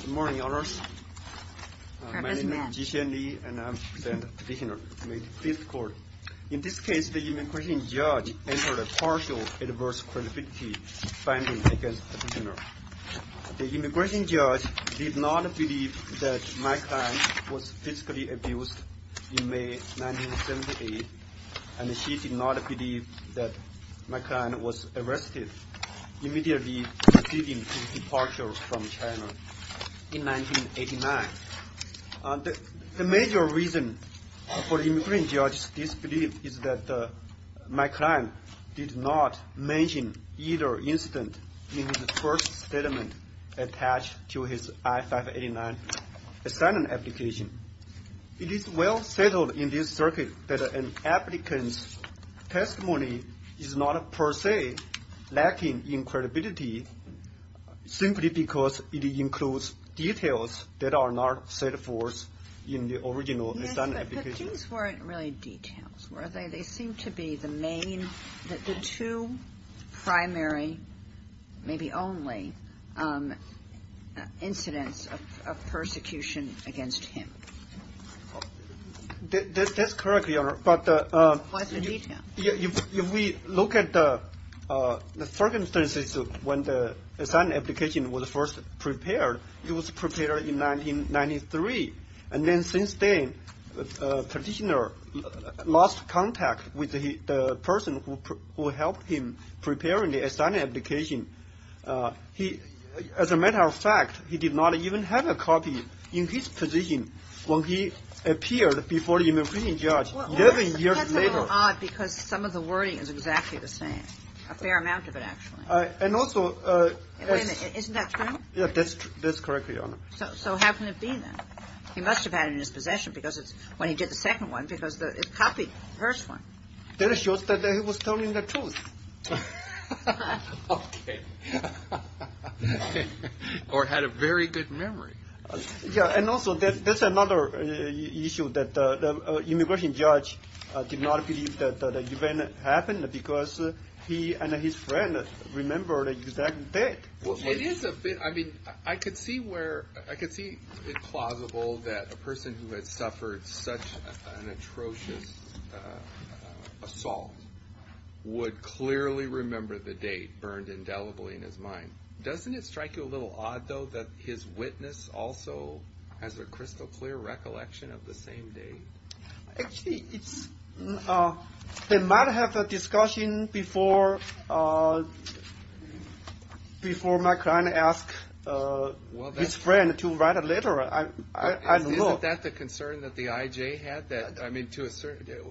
Good morning, all of us. My name is Jixian Li, and I'm representing the petitioner in the Fifth Court. In this case, the immigration judge entered a partial adverse-qualifications finding against the petitioner. The immigration judge did not believe that my client was physically abused in May 1978, and she did not believe that my client was arrested immediately preceding his departure from China in 1989. The major reason for the immigration judge's disbelief is that my client did not mention either incident in his first statement attached to his I-589 assignment application. It is well settled in this circuit that an applicant's testimony is not per se lacking in credibility, simply because it includes details that are not set forth in the original assignment application. These weren't really details, were they? They seem to be the two primary, maybe only, incidents of persecution against him. That's correct, Your Honor, but if we look at the circumstances when the assignment application was first prepared, it was prepared in 1993, and then since then, petitioner lost contact with the person who helped him prepare the assignment application. He, as a matter of fact, he did not even have a copy in his position when he appeared before the immigration judge 11 years later. Well, that's a little odd because some of the wording is exactly the same, a fair amount of it, actually. Isn't that true? That's correct, Your Honor. So how can it be, then? He must have had it in his possession when he did the second one because it copied the first one. That shows that he was telling the truth. Okay. Or had a very good memory. Yeah, and also that's another issue that the immigration judge did not believe that the event happened because he and his friend remembered the exact date. It is a bit, I mean, I could see where, I could see it plausible that a person who had suffered such an atrocious assault would clearly remember the date burned indelibly in his mind. Doesn't it strike you a little odd, though, that his witness also has a crystal clear recollection of the same day? Actually, they might have a discussion before my client asked his friend to write a letter. Isn't that the concern that the I.J. had? I mean,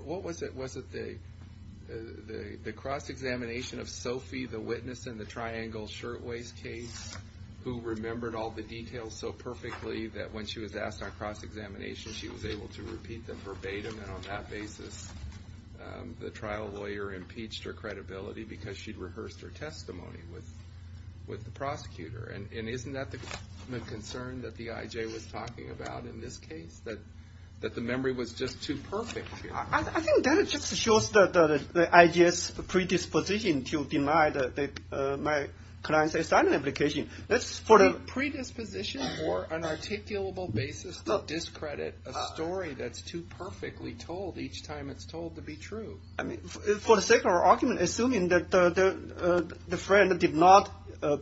what was it? Was it the cross-examination of Sophie, the witness in the Triangle Shirtwaist case, who remembered all the details so perfectly that when she was asked on cross-examination, she was able to repeat them verbatim? And on that basis, the trial lawyer impeached her credibility because she'd rehearsed her testimony with the prosecutor. And isn't that the concern that the I.J. was talking about in this case, that the memory was just too perfect here? I think that just shows that the I.J.'s predisposition to deny my client's asylum application. The predisposition or unarticulable basis to discredit a story that's too perfectly told each time it's told to be true. For the sake of argument, assuming that the friend did not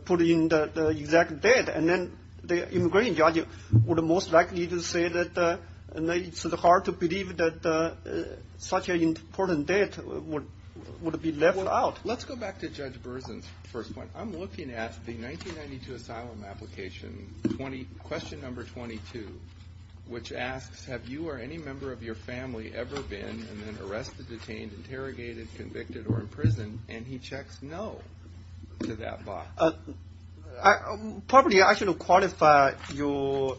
put in the exact date, and then the immigration judge would most likely say that it's hard to believe that such an important date would be left out. Let's go back to Judge Berzin's first point. I'm looking at the 1992 asylum application, question number 22, which asks, have you or any member of your family ever been and then arrested, detained, interrogated, convicted, or imprisoned? And he checks no to that box. Probably I should have qualified your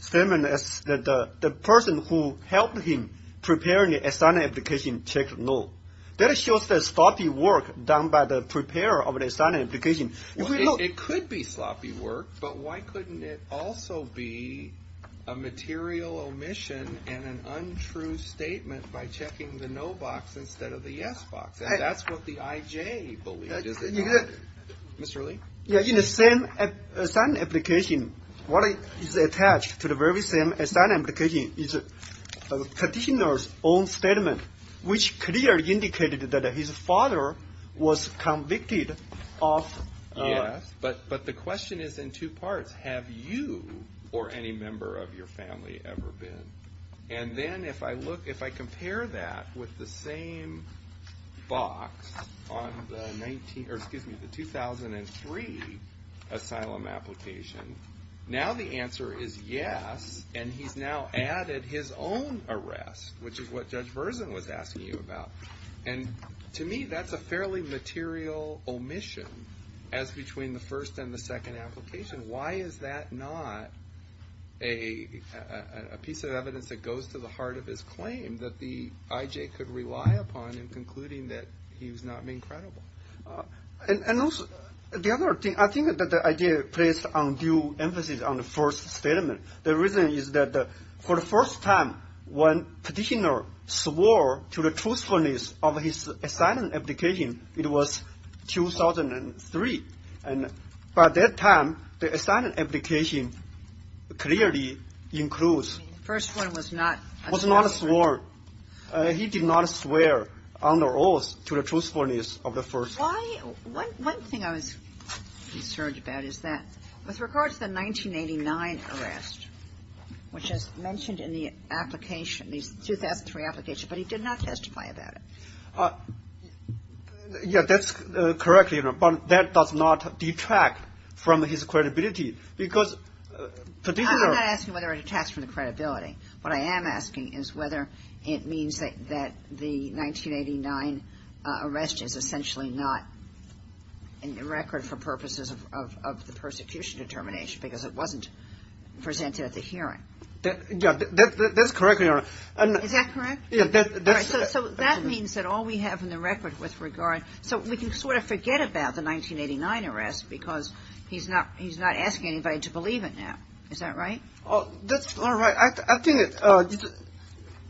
statement as the person who helped him prepare the asylum application checked no. That shows the sloppy work done by the preparer of the asylum application. It could be sloppy work, but why couldn't it also be a material omission and an untrue statement by checking the no box instead of the yes box? That's what the IJ believes. Mr. Li? In the same asylum application, what is attached to the very same asylum application is the petitioner's own statement, which clearly indicated that his father was convicted of arrest. But the question is in two parts. Have you or any member of your family ever been? And then if I compare that with the same box on the 2003 asylum application, now the answer is yes, and he's now added his own arrest, which is what Judge Berzin was asking you about. And to me, that's a fairly material omission as between the first and the second application. Why is that not a piece of evidence that goes to the heart of his claim that the IJ could rely upon in concluding that he was not being credible? And also the other thing, I think that the IJ placed undue emphasis on the first statement. The reason is that for the first time when petitioner swore to the truthfulness of his asylum application, it was 2003. And by that time, the asylum application clearly includes the first one was not a sworn. He did not swear on the oath to the truthfulness of the first one. Why? One thing I was concerned about is that with regard to the 1989 arrest, which is mentioned in the application, the 2003 application, but he did not testify about it. Yeah, that's correct, Your Honor. But that does not detract from his credibility because petitioner — I'm not asking whether it detracts from the credibility. What I am asking is whether it means that the 1989 arrest is essentially not in the record for purposes of the persecution determination because it wasn't presented at the hearing. Yeah, that's correct, Your Honor. Is that correct? Yeah. So that means that all we have in the record with regard — so we can sort of forget about the 1989 arrest because he's not asking anybody to believe it now. Is that right? That's not right. I think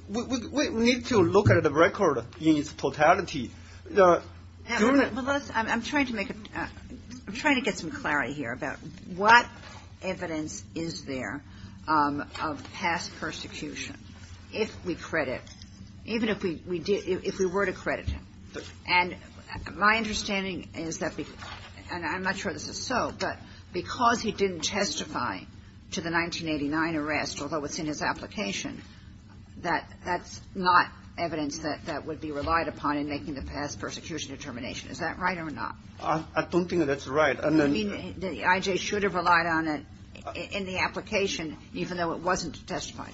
we need to look at the record in its totality. Well, let's — I'm trying to make a — I'm trying to get some clarity here about what evidence is there of past persecution if we credit — even if we were to credit him. And my understanding is that — and I'm not sure this is so, but because he didn't testify to the 1989 arrest, although it's in his application, that that's not evidence that would be relied upon in making the past persecution determination. Is that right or not? I don't think that's right. You mean the I.J. should have relied on it in the application even though it wasn't testified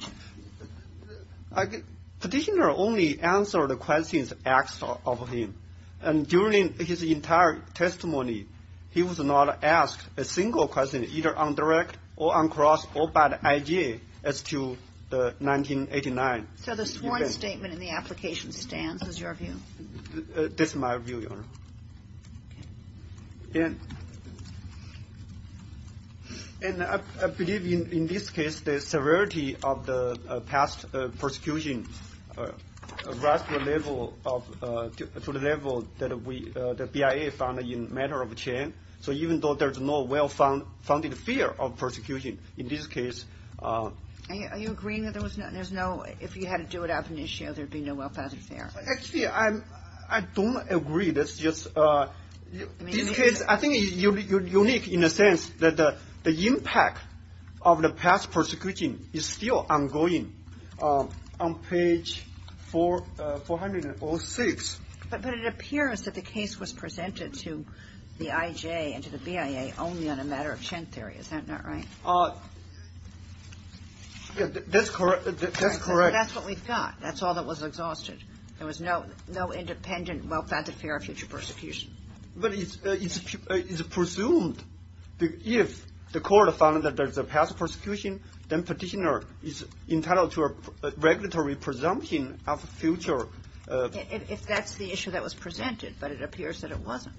to? Petitioner only answered the questions asked of him. And during his entire testimony, he was not asked a single question either on direct or on cross or by the I.J. as to the 1989 event. So the sworn statement in the application stands is your view? That's my view, Your Honor. Okay. Are you agreeing that there was no — there's no — if you had to do it out of an issue, there'd be no well-founded fear? Actually, I don't agree. That's just — this case, I think, is unique in a sense that the impact of the past persecution is still ongoing on page 406. But it appears that the case was presented to the I.J. and to the BIA only on a matter of Chen theory. Is that not right? That's correct. That's what we thought. That's all that was exhausted. There was no independent well-founded fear of future persecution. But it's presumed that if the court found that there's a past persecution, then Petitioner is entitled to a regulatory presumption of future — If that's the issue that was presented, but it appears that it wasn't.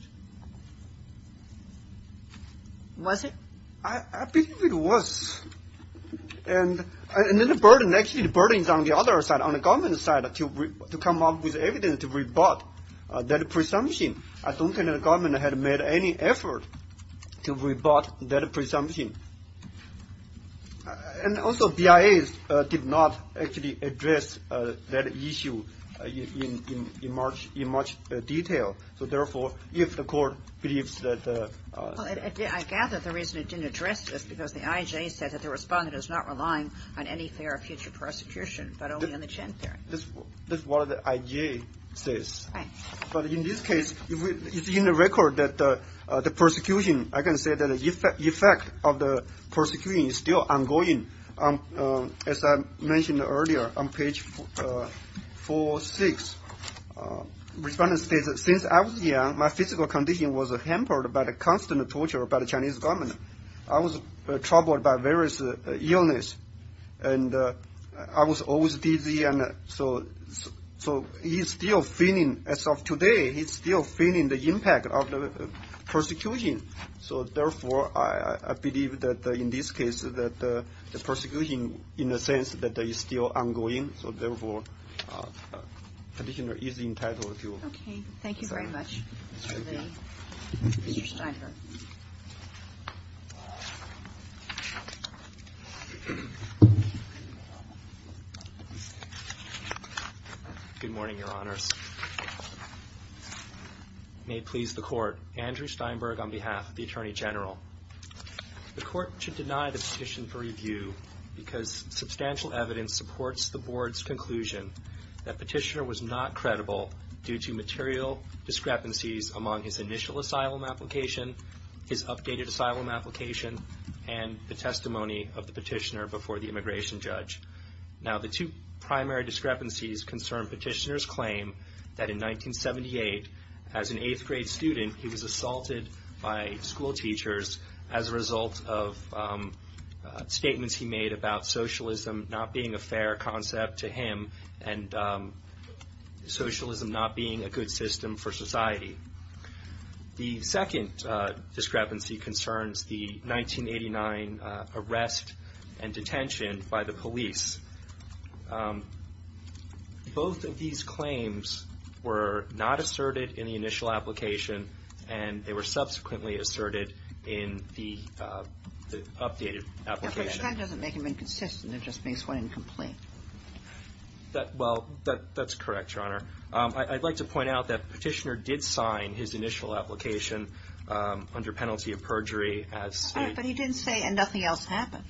Was it? I believe it was. And then the burden — actually, the burden is on the other side, on the government side, to come up with evidence to rebut that presumption. I don't think the government had made any effort to rebut that presumption. And also, BIA did not actually address that issue in much detail. So, therefore, if the court believes that — Well, I gather the reason it didn't address this is because the I.J. said that the Respondent is not relying on any fear of future persecution, but only on the Chen theory. That's what the I.J. says. Right. But in this case, it's in the record that the persecution — I can say that the effect of the persecution is still ongoing. As I mentioned earlier, on page 4-6, Respondent states, Since I was young, my physical condition was hampered by the constant torture by the Chinese government. I was troubled by various illness. And I was always dizzy. And so he's still feeling — as of today, he's still feeling the impact of the persecution. So, therefore, I believe that, in this case, that the persecution, in a sense, is still ongoing. So, therefore, the petitioner is entitled to — Okay. Thank you very much, Mr. Li. Mr. Steinberg. Good morning, Your Honors. May it please the Court, Andrew Steinberg on behalf of the Attorney General. The Court should deny the petition for review because substantial evidence supports the Board's conclusion that Petitioner was not credible due to material discrepancies among his initial asylum application, his updated asylum application, and the testimony of the petitioner before the immigration judge. Now, the two primary discrepancies concern Petitioner's claim that, in 1978, as an eighth-grade student, he was assaulted by schoolteachers as a result of statements he made about socialism not being a fair concept to him and socialism not being a good system for society. The second discrepancy concerns the 1989 arrest and detention by the police. Both of these claims were not asserted in the initial application, and they were subsequently asserted in the updated application. But that doesn't make them inconsistent. It just makes one incomplete. Well, that's correct, Your Honor. I'd like to point out that Petitioner did sign his initial application under penalty of perjury. But he didn't say, and nothing else happened.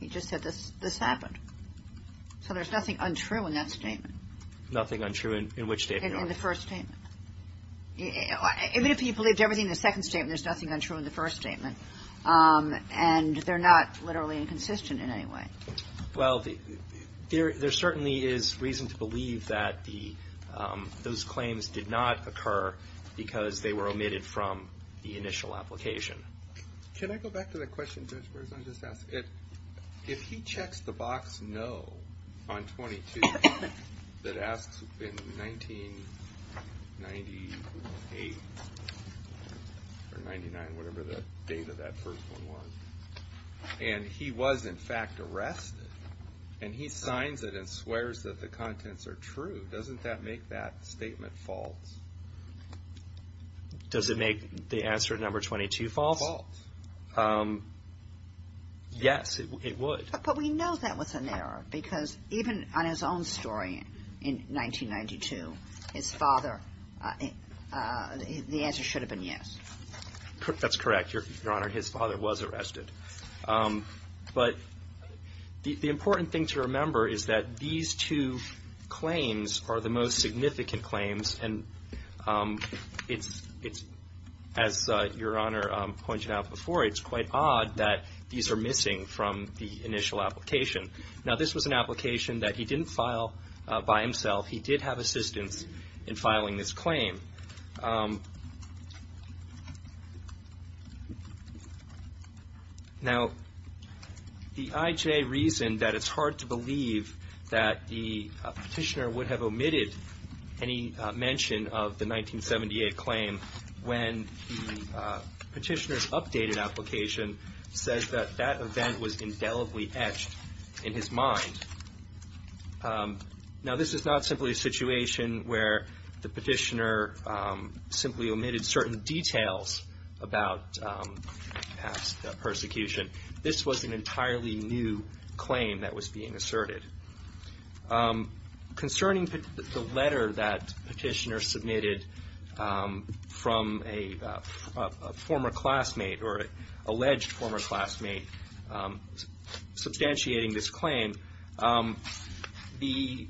He just said, this happened. So there's nothing untrue in that statement. Nothing untrue in which statement, Your Honor? In the first statement. Even if he believed everything in the second statement, there's nothing untrue in the first statement. And they're not literally inconsistent in any way. Well, there certainly is reason to believe that those claims did not occur because they were omitted from the initial application. Can I go back to the question Judge Berzon just asked? If he checks the box no on 22 that asks in 1998 or 99, whatever the date of that first one was, and he was, in fact, arrested, and he signs it and swears that the contents are true, doesn't that make that statement false? Does it make the answer number 22 false? False. Yes, it would. But we know that was an error because even on his own story in 1992, his father, the answer should have been yes. That's correct, Your Honor. His father was arrested. But the important thing to remember is that these two claims are the most significant claims. And as Your Honor pointed out before, it's quite odd that these are missing from the initial application. Now, this was an application that he didn't file by himself. He did have assistance in filing this claim. Now, the IJ reasoned that it's hard to believe that the petitioner would have omitted any mention of the 1978 claim when the petitioner's updated application says that that event was indelibly etched in his mind. Now, this is not simply a situation where the petitioner simply omitted certain details about past persecution. This was an entirely new claim that was being asserted. Concerning the letter that petitioner submitted from a former classmate or alleged former classmate substantiating this claim, the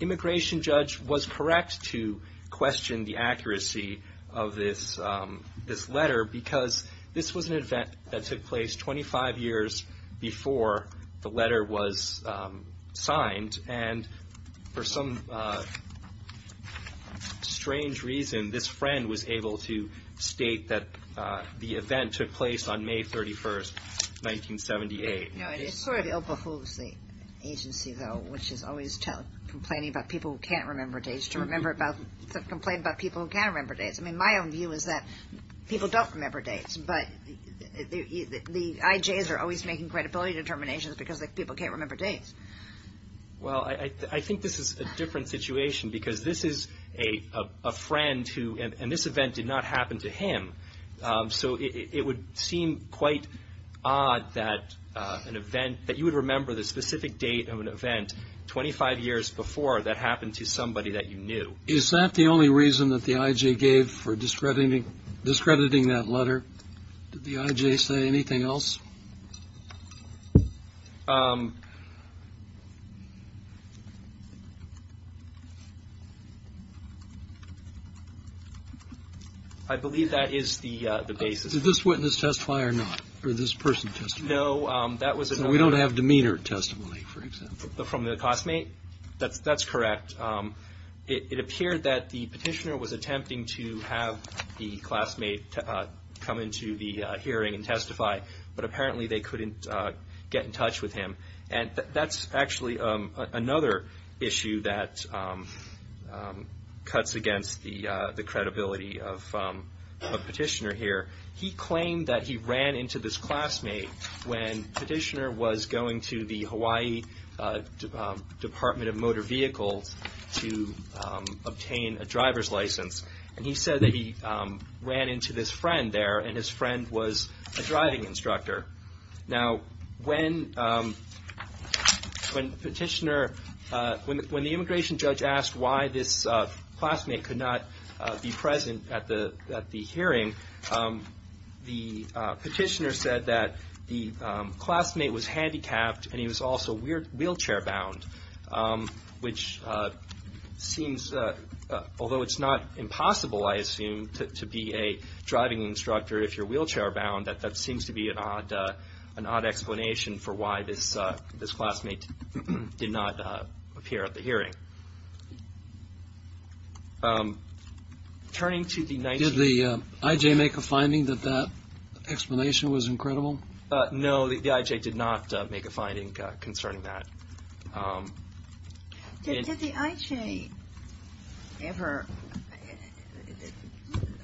immigration judge was correct to question the accuracy of this letter because this was an event that took place 25 years before the letter was signed. And for some strange reason, this friend was able to state that the event took place on May 31, 1978. No, it sort of overholds the agency, though, which is always complaining about people who can't remember days to remember about the complaint about people who can remember days. I mean, my own view is that people don't remember dates, but the IJs are always making credibility determinations because people can't remember dates. Well, I think this is a different situation because this is a friend who – and this event did not happen to him. So it would seem quite odd that an event – that you would remember the specific date of an event 25 years before that happened to somebody that you knew. Is that the only reason that the IJ gave for discrediting that letter? Did the IJ say anything else? I believe that is the basis. Did this witness testify or not, or this person testify? No, that was – From the classmate? That's correct. It appeared that the petitioner was attempting to have the classmate come into the hearing and testify, but apparently they couldn't get in touch with him. And that's actually another issue that cuts against the credibility of Petitioner here. He claimed that he ran into this classmate when Petitioner was going to the Hawaii Department of Motor Vehicles to obtain a driver's license. And he said that he ran into this friend there, and his friend was a driving instructor. Now, when Petitioner – when the immigration judge asked why this classmate could not be present at the hearing, the petitioner said that the classmate was handicapped and he was also wheelchair-bound, which seems – although it's not impossible, I assume, to be a driving instructor if you're wheelchair-bound, that that seems to be an odd explanation for why this classmate did not appear at the hearing. Turning to the – Did the IJ make a finding that that explanation was incredible? No, the IJ did not make a finding concerning that. Did the IJ ever –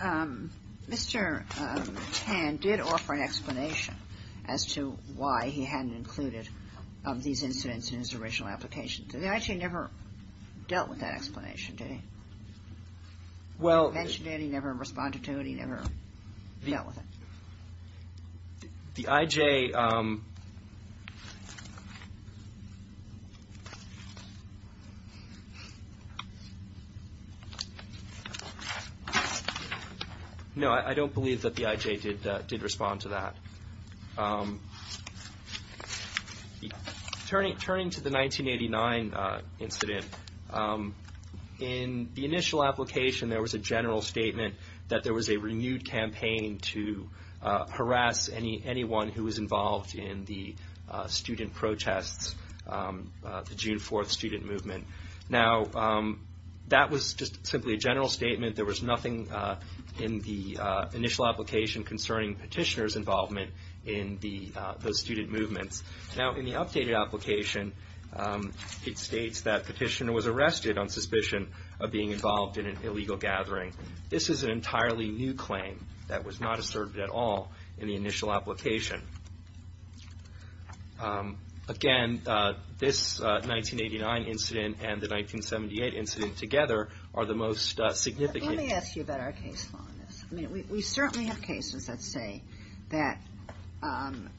Mr. Tan did offer an explanation as to why he hadn't included these incidents in his original application. Did the IJ never dealt with that explanation? Did he mention it? He never responded to it? He never dealt with it? The IJ – No, I don't believe that the IJ did respond to that. Turning to the 1989 incident, in the initial application, there was a general statement that there was a renewed campaign to harass anyone who was involved in the student protests, the June 4th student movement. Now, that was just simply a general statement. There was nothing in the initial application concerning petitioner's involvement in those student movements. Now, in the updated application, it states that petitioner was arrested on suspicion of being involved in an illegal gathering. This is an entirely new claim that was not asserted at all in the initial application. Again, this 1989 incident and the 1978 incident together are the most significant – Let me ask you about our case law on this. I mean, we certainly have cases that say that – and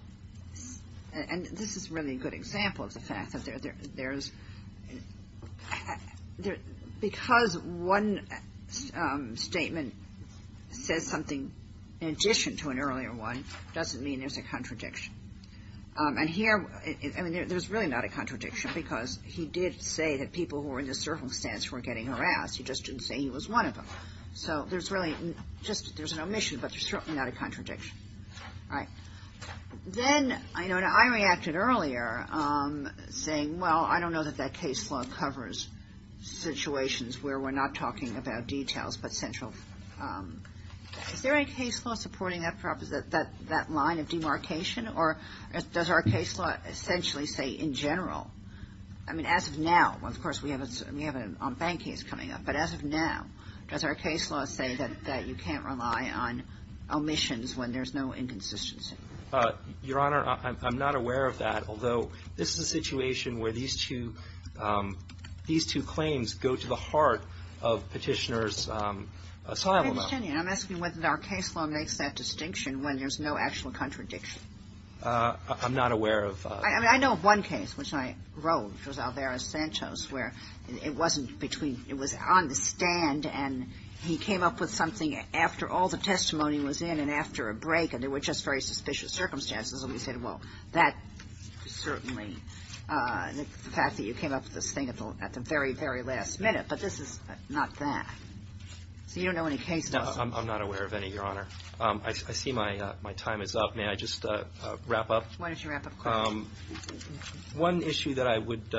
this is really a good example of the fact that there's – because one statement says something in addition to an earlier one, doesn't mean there's a contradiction. And here – I mean, there's really not a contradiction, because he did say that people who were in this circumstance were getting harassed. He just didn't say he was one of them. So there's really just – there's an omission, but there's certainly not a contradiction. All right. Then, you know, I reacted earlier, saying, well, I don't know that that case law covers situations where we're not talking about details but central – is there any case law supporting that line of demarcation, or does our case law essentially say in general – I mean, as of now, of course, we have an on-bank case coming up, but as of now, does our case law say that you can't rely on omissions when there's no inconsistency? Your Honor, I'm not aware of that, although this is a situation where these two – these two claims go to the heart of Petitioner's asylum act. I'm asking whether our case law makes that distinction when there's no actual contradiction. I'm not aware of – I mean, I know of one case, which I wrote, which was Alvarez-Santos, where it wasn't between – it was on the stand, and he came up with something after all the testimony was in and after a break, and there were just very suspicious circumstances, and we said, well, that certainly – the fact that you came up with this thing at the very, very last minute, but this is not that. So you don't know any case laws? I'm not aware of any, Your Honor. I see my time is up. May I just wrap up? Why don't you wrap up? One issue that I would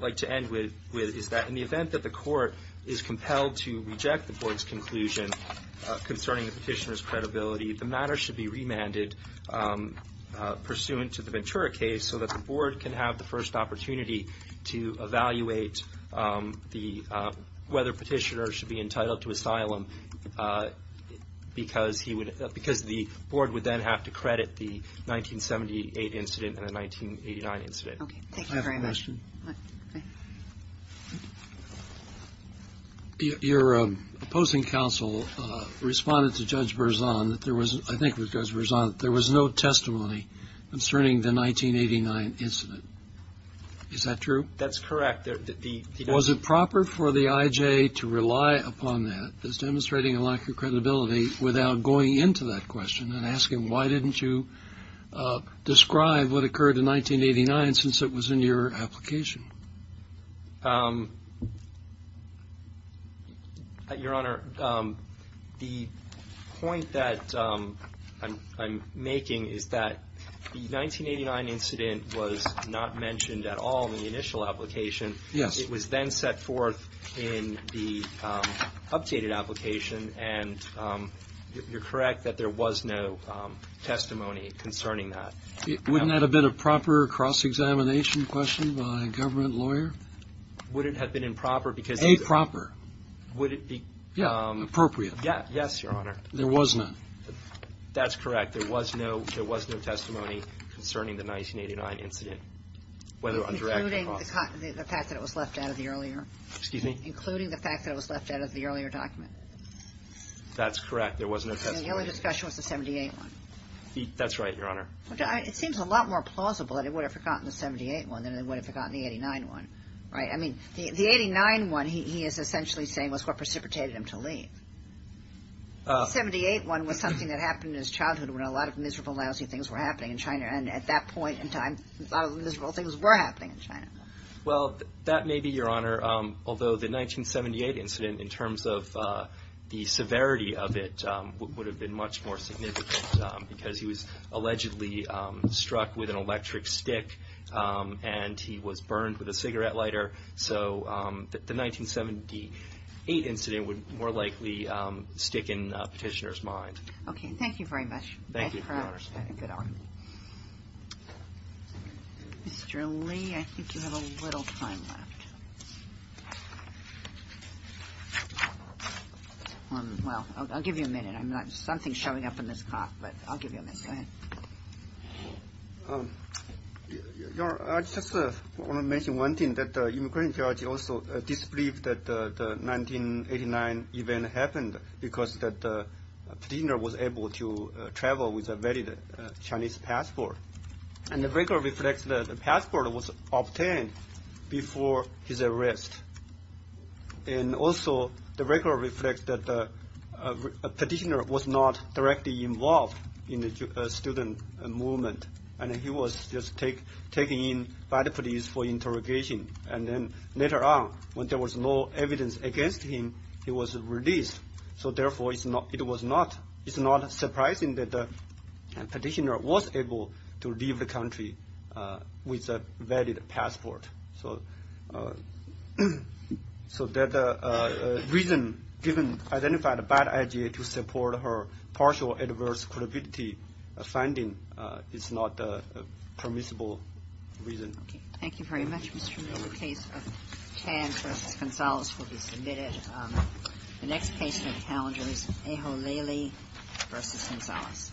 like to end with is that in the event that the Court is compelled to reject the Board's conclusion concerning the Petitioner's credibility, the matter should be remanded pursuant to the Ventura case so that the Board can have the first opportunity to evaluate the – whether Petitioner should be entitled to asylum because he would – because the Board would then have to credit the 1978 incident and the 1989 incident. Okay. Thank you very much. I have a question. Go ahead. Your opposing counsel responded to Judge Berzon that there was – I think it was Judge Berzon – that there was no testimony concerning the 1989 incident. Is that true? That's correct. Was it proper for the IJ to rely upon that as demonstrating a lack of credibility without going into that question and asking why didn't you describe what occurred in 1989 since it was in your application? Your Honor, the point that I'm making is that the 1989 incident was not mentioned at all in the initial application. Yes. It was then set forth in the updated application, and you're correct that there was no testimony concerning that. Wouldn't that have been a proper cross-examination question by a government lawyer? Would it have been improper because – Aproper. Would it be – Yeah, appropriate. Yes, Your Honor. There was none. That's correct. There was no – there was no testimony concerning the 1989 incident, whether undirected or not. Including the fact that it was left out of the earlier – Excuse me? Including the fact that it was left out of the earlier document. That's correct. There was no testimony. The only discussion was the 78 one. That's right, Your Honor. It seems a lot more plausible that it would have forgotten the 78 one than it would have forgotten the 89 one, right? I mean, the 89 one, he is essentially saying, was what precipitated him to leave. The 78 one was something that happened in his childhood when a lot of miserable, lousy things were happening in China. And at that point in time, a lot of the miserable things were happening in China. Well, that may be, Your Honor. Although the 1978 incident, in terms of the severity of it, would have been much more significant because he was allegedly struck with an electric stick and he was burned with a cigarette lighter. So the 1978 incident would more likely stick in Petitioner's mind. Okay. Thank you very much. Thank you, Your Honor. Good argument. Mr. Li, I think you have a little time left. Well, I'll give you a minute. Something's showing up in this clock, but I'll give you a minute. Go ahead. Your Honor, I just want to mention one thing, that the immigration judge also disbelieved that the 1989 event happened because Petitioner was able to travel with a valid Chinese passport. And the record reflects that the passport was obtained before his arrest. And also, the record reflects that Petitioner was not directly involved in the student movement, and he was just taken in by the police for interrogation. And then later on, when there was no evidence against him, he was released. So, therefore, it was not surprising that Petitioner was able to leave the country with a valid passport. So that reason, given, identified a bad idea to support her partial adverse credibility finding is not a permissible reason. Okay. Thank you very much, Mr. Li. The case of Chan v. Gonzalez will be submitted. The next case on the calendar is Eho Lely v. Gonzalez.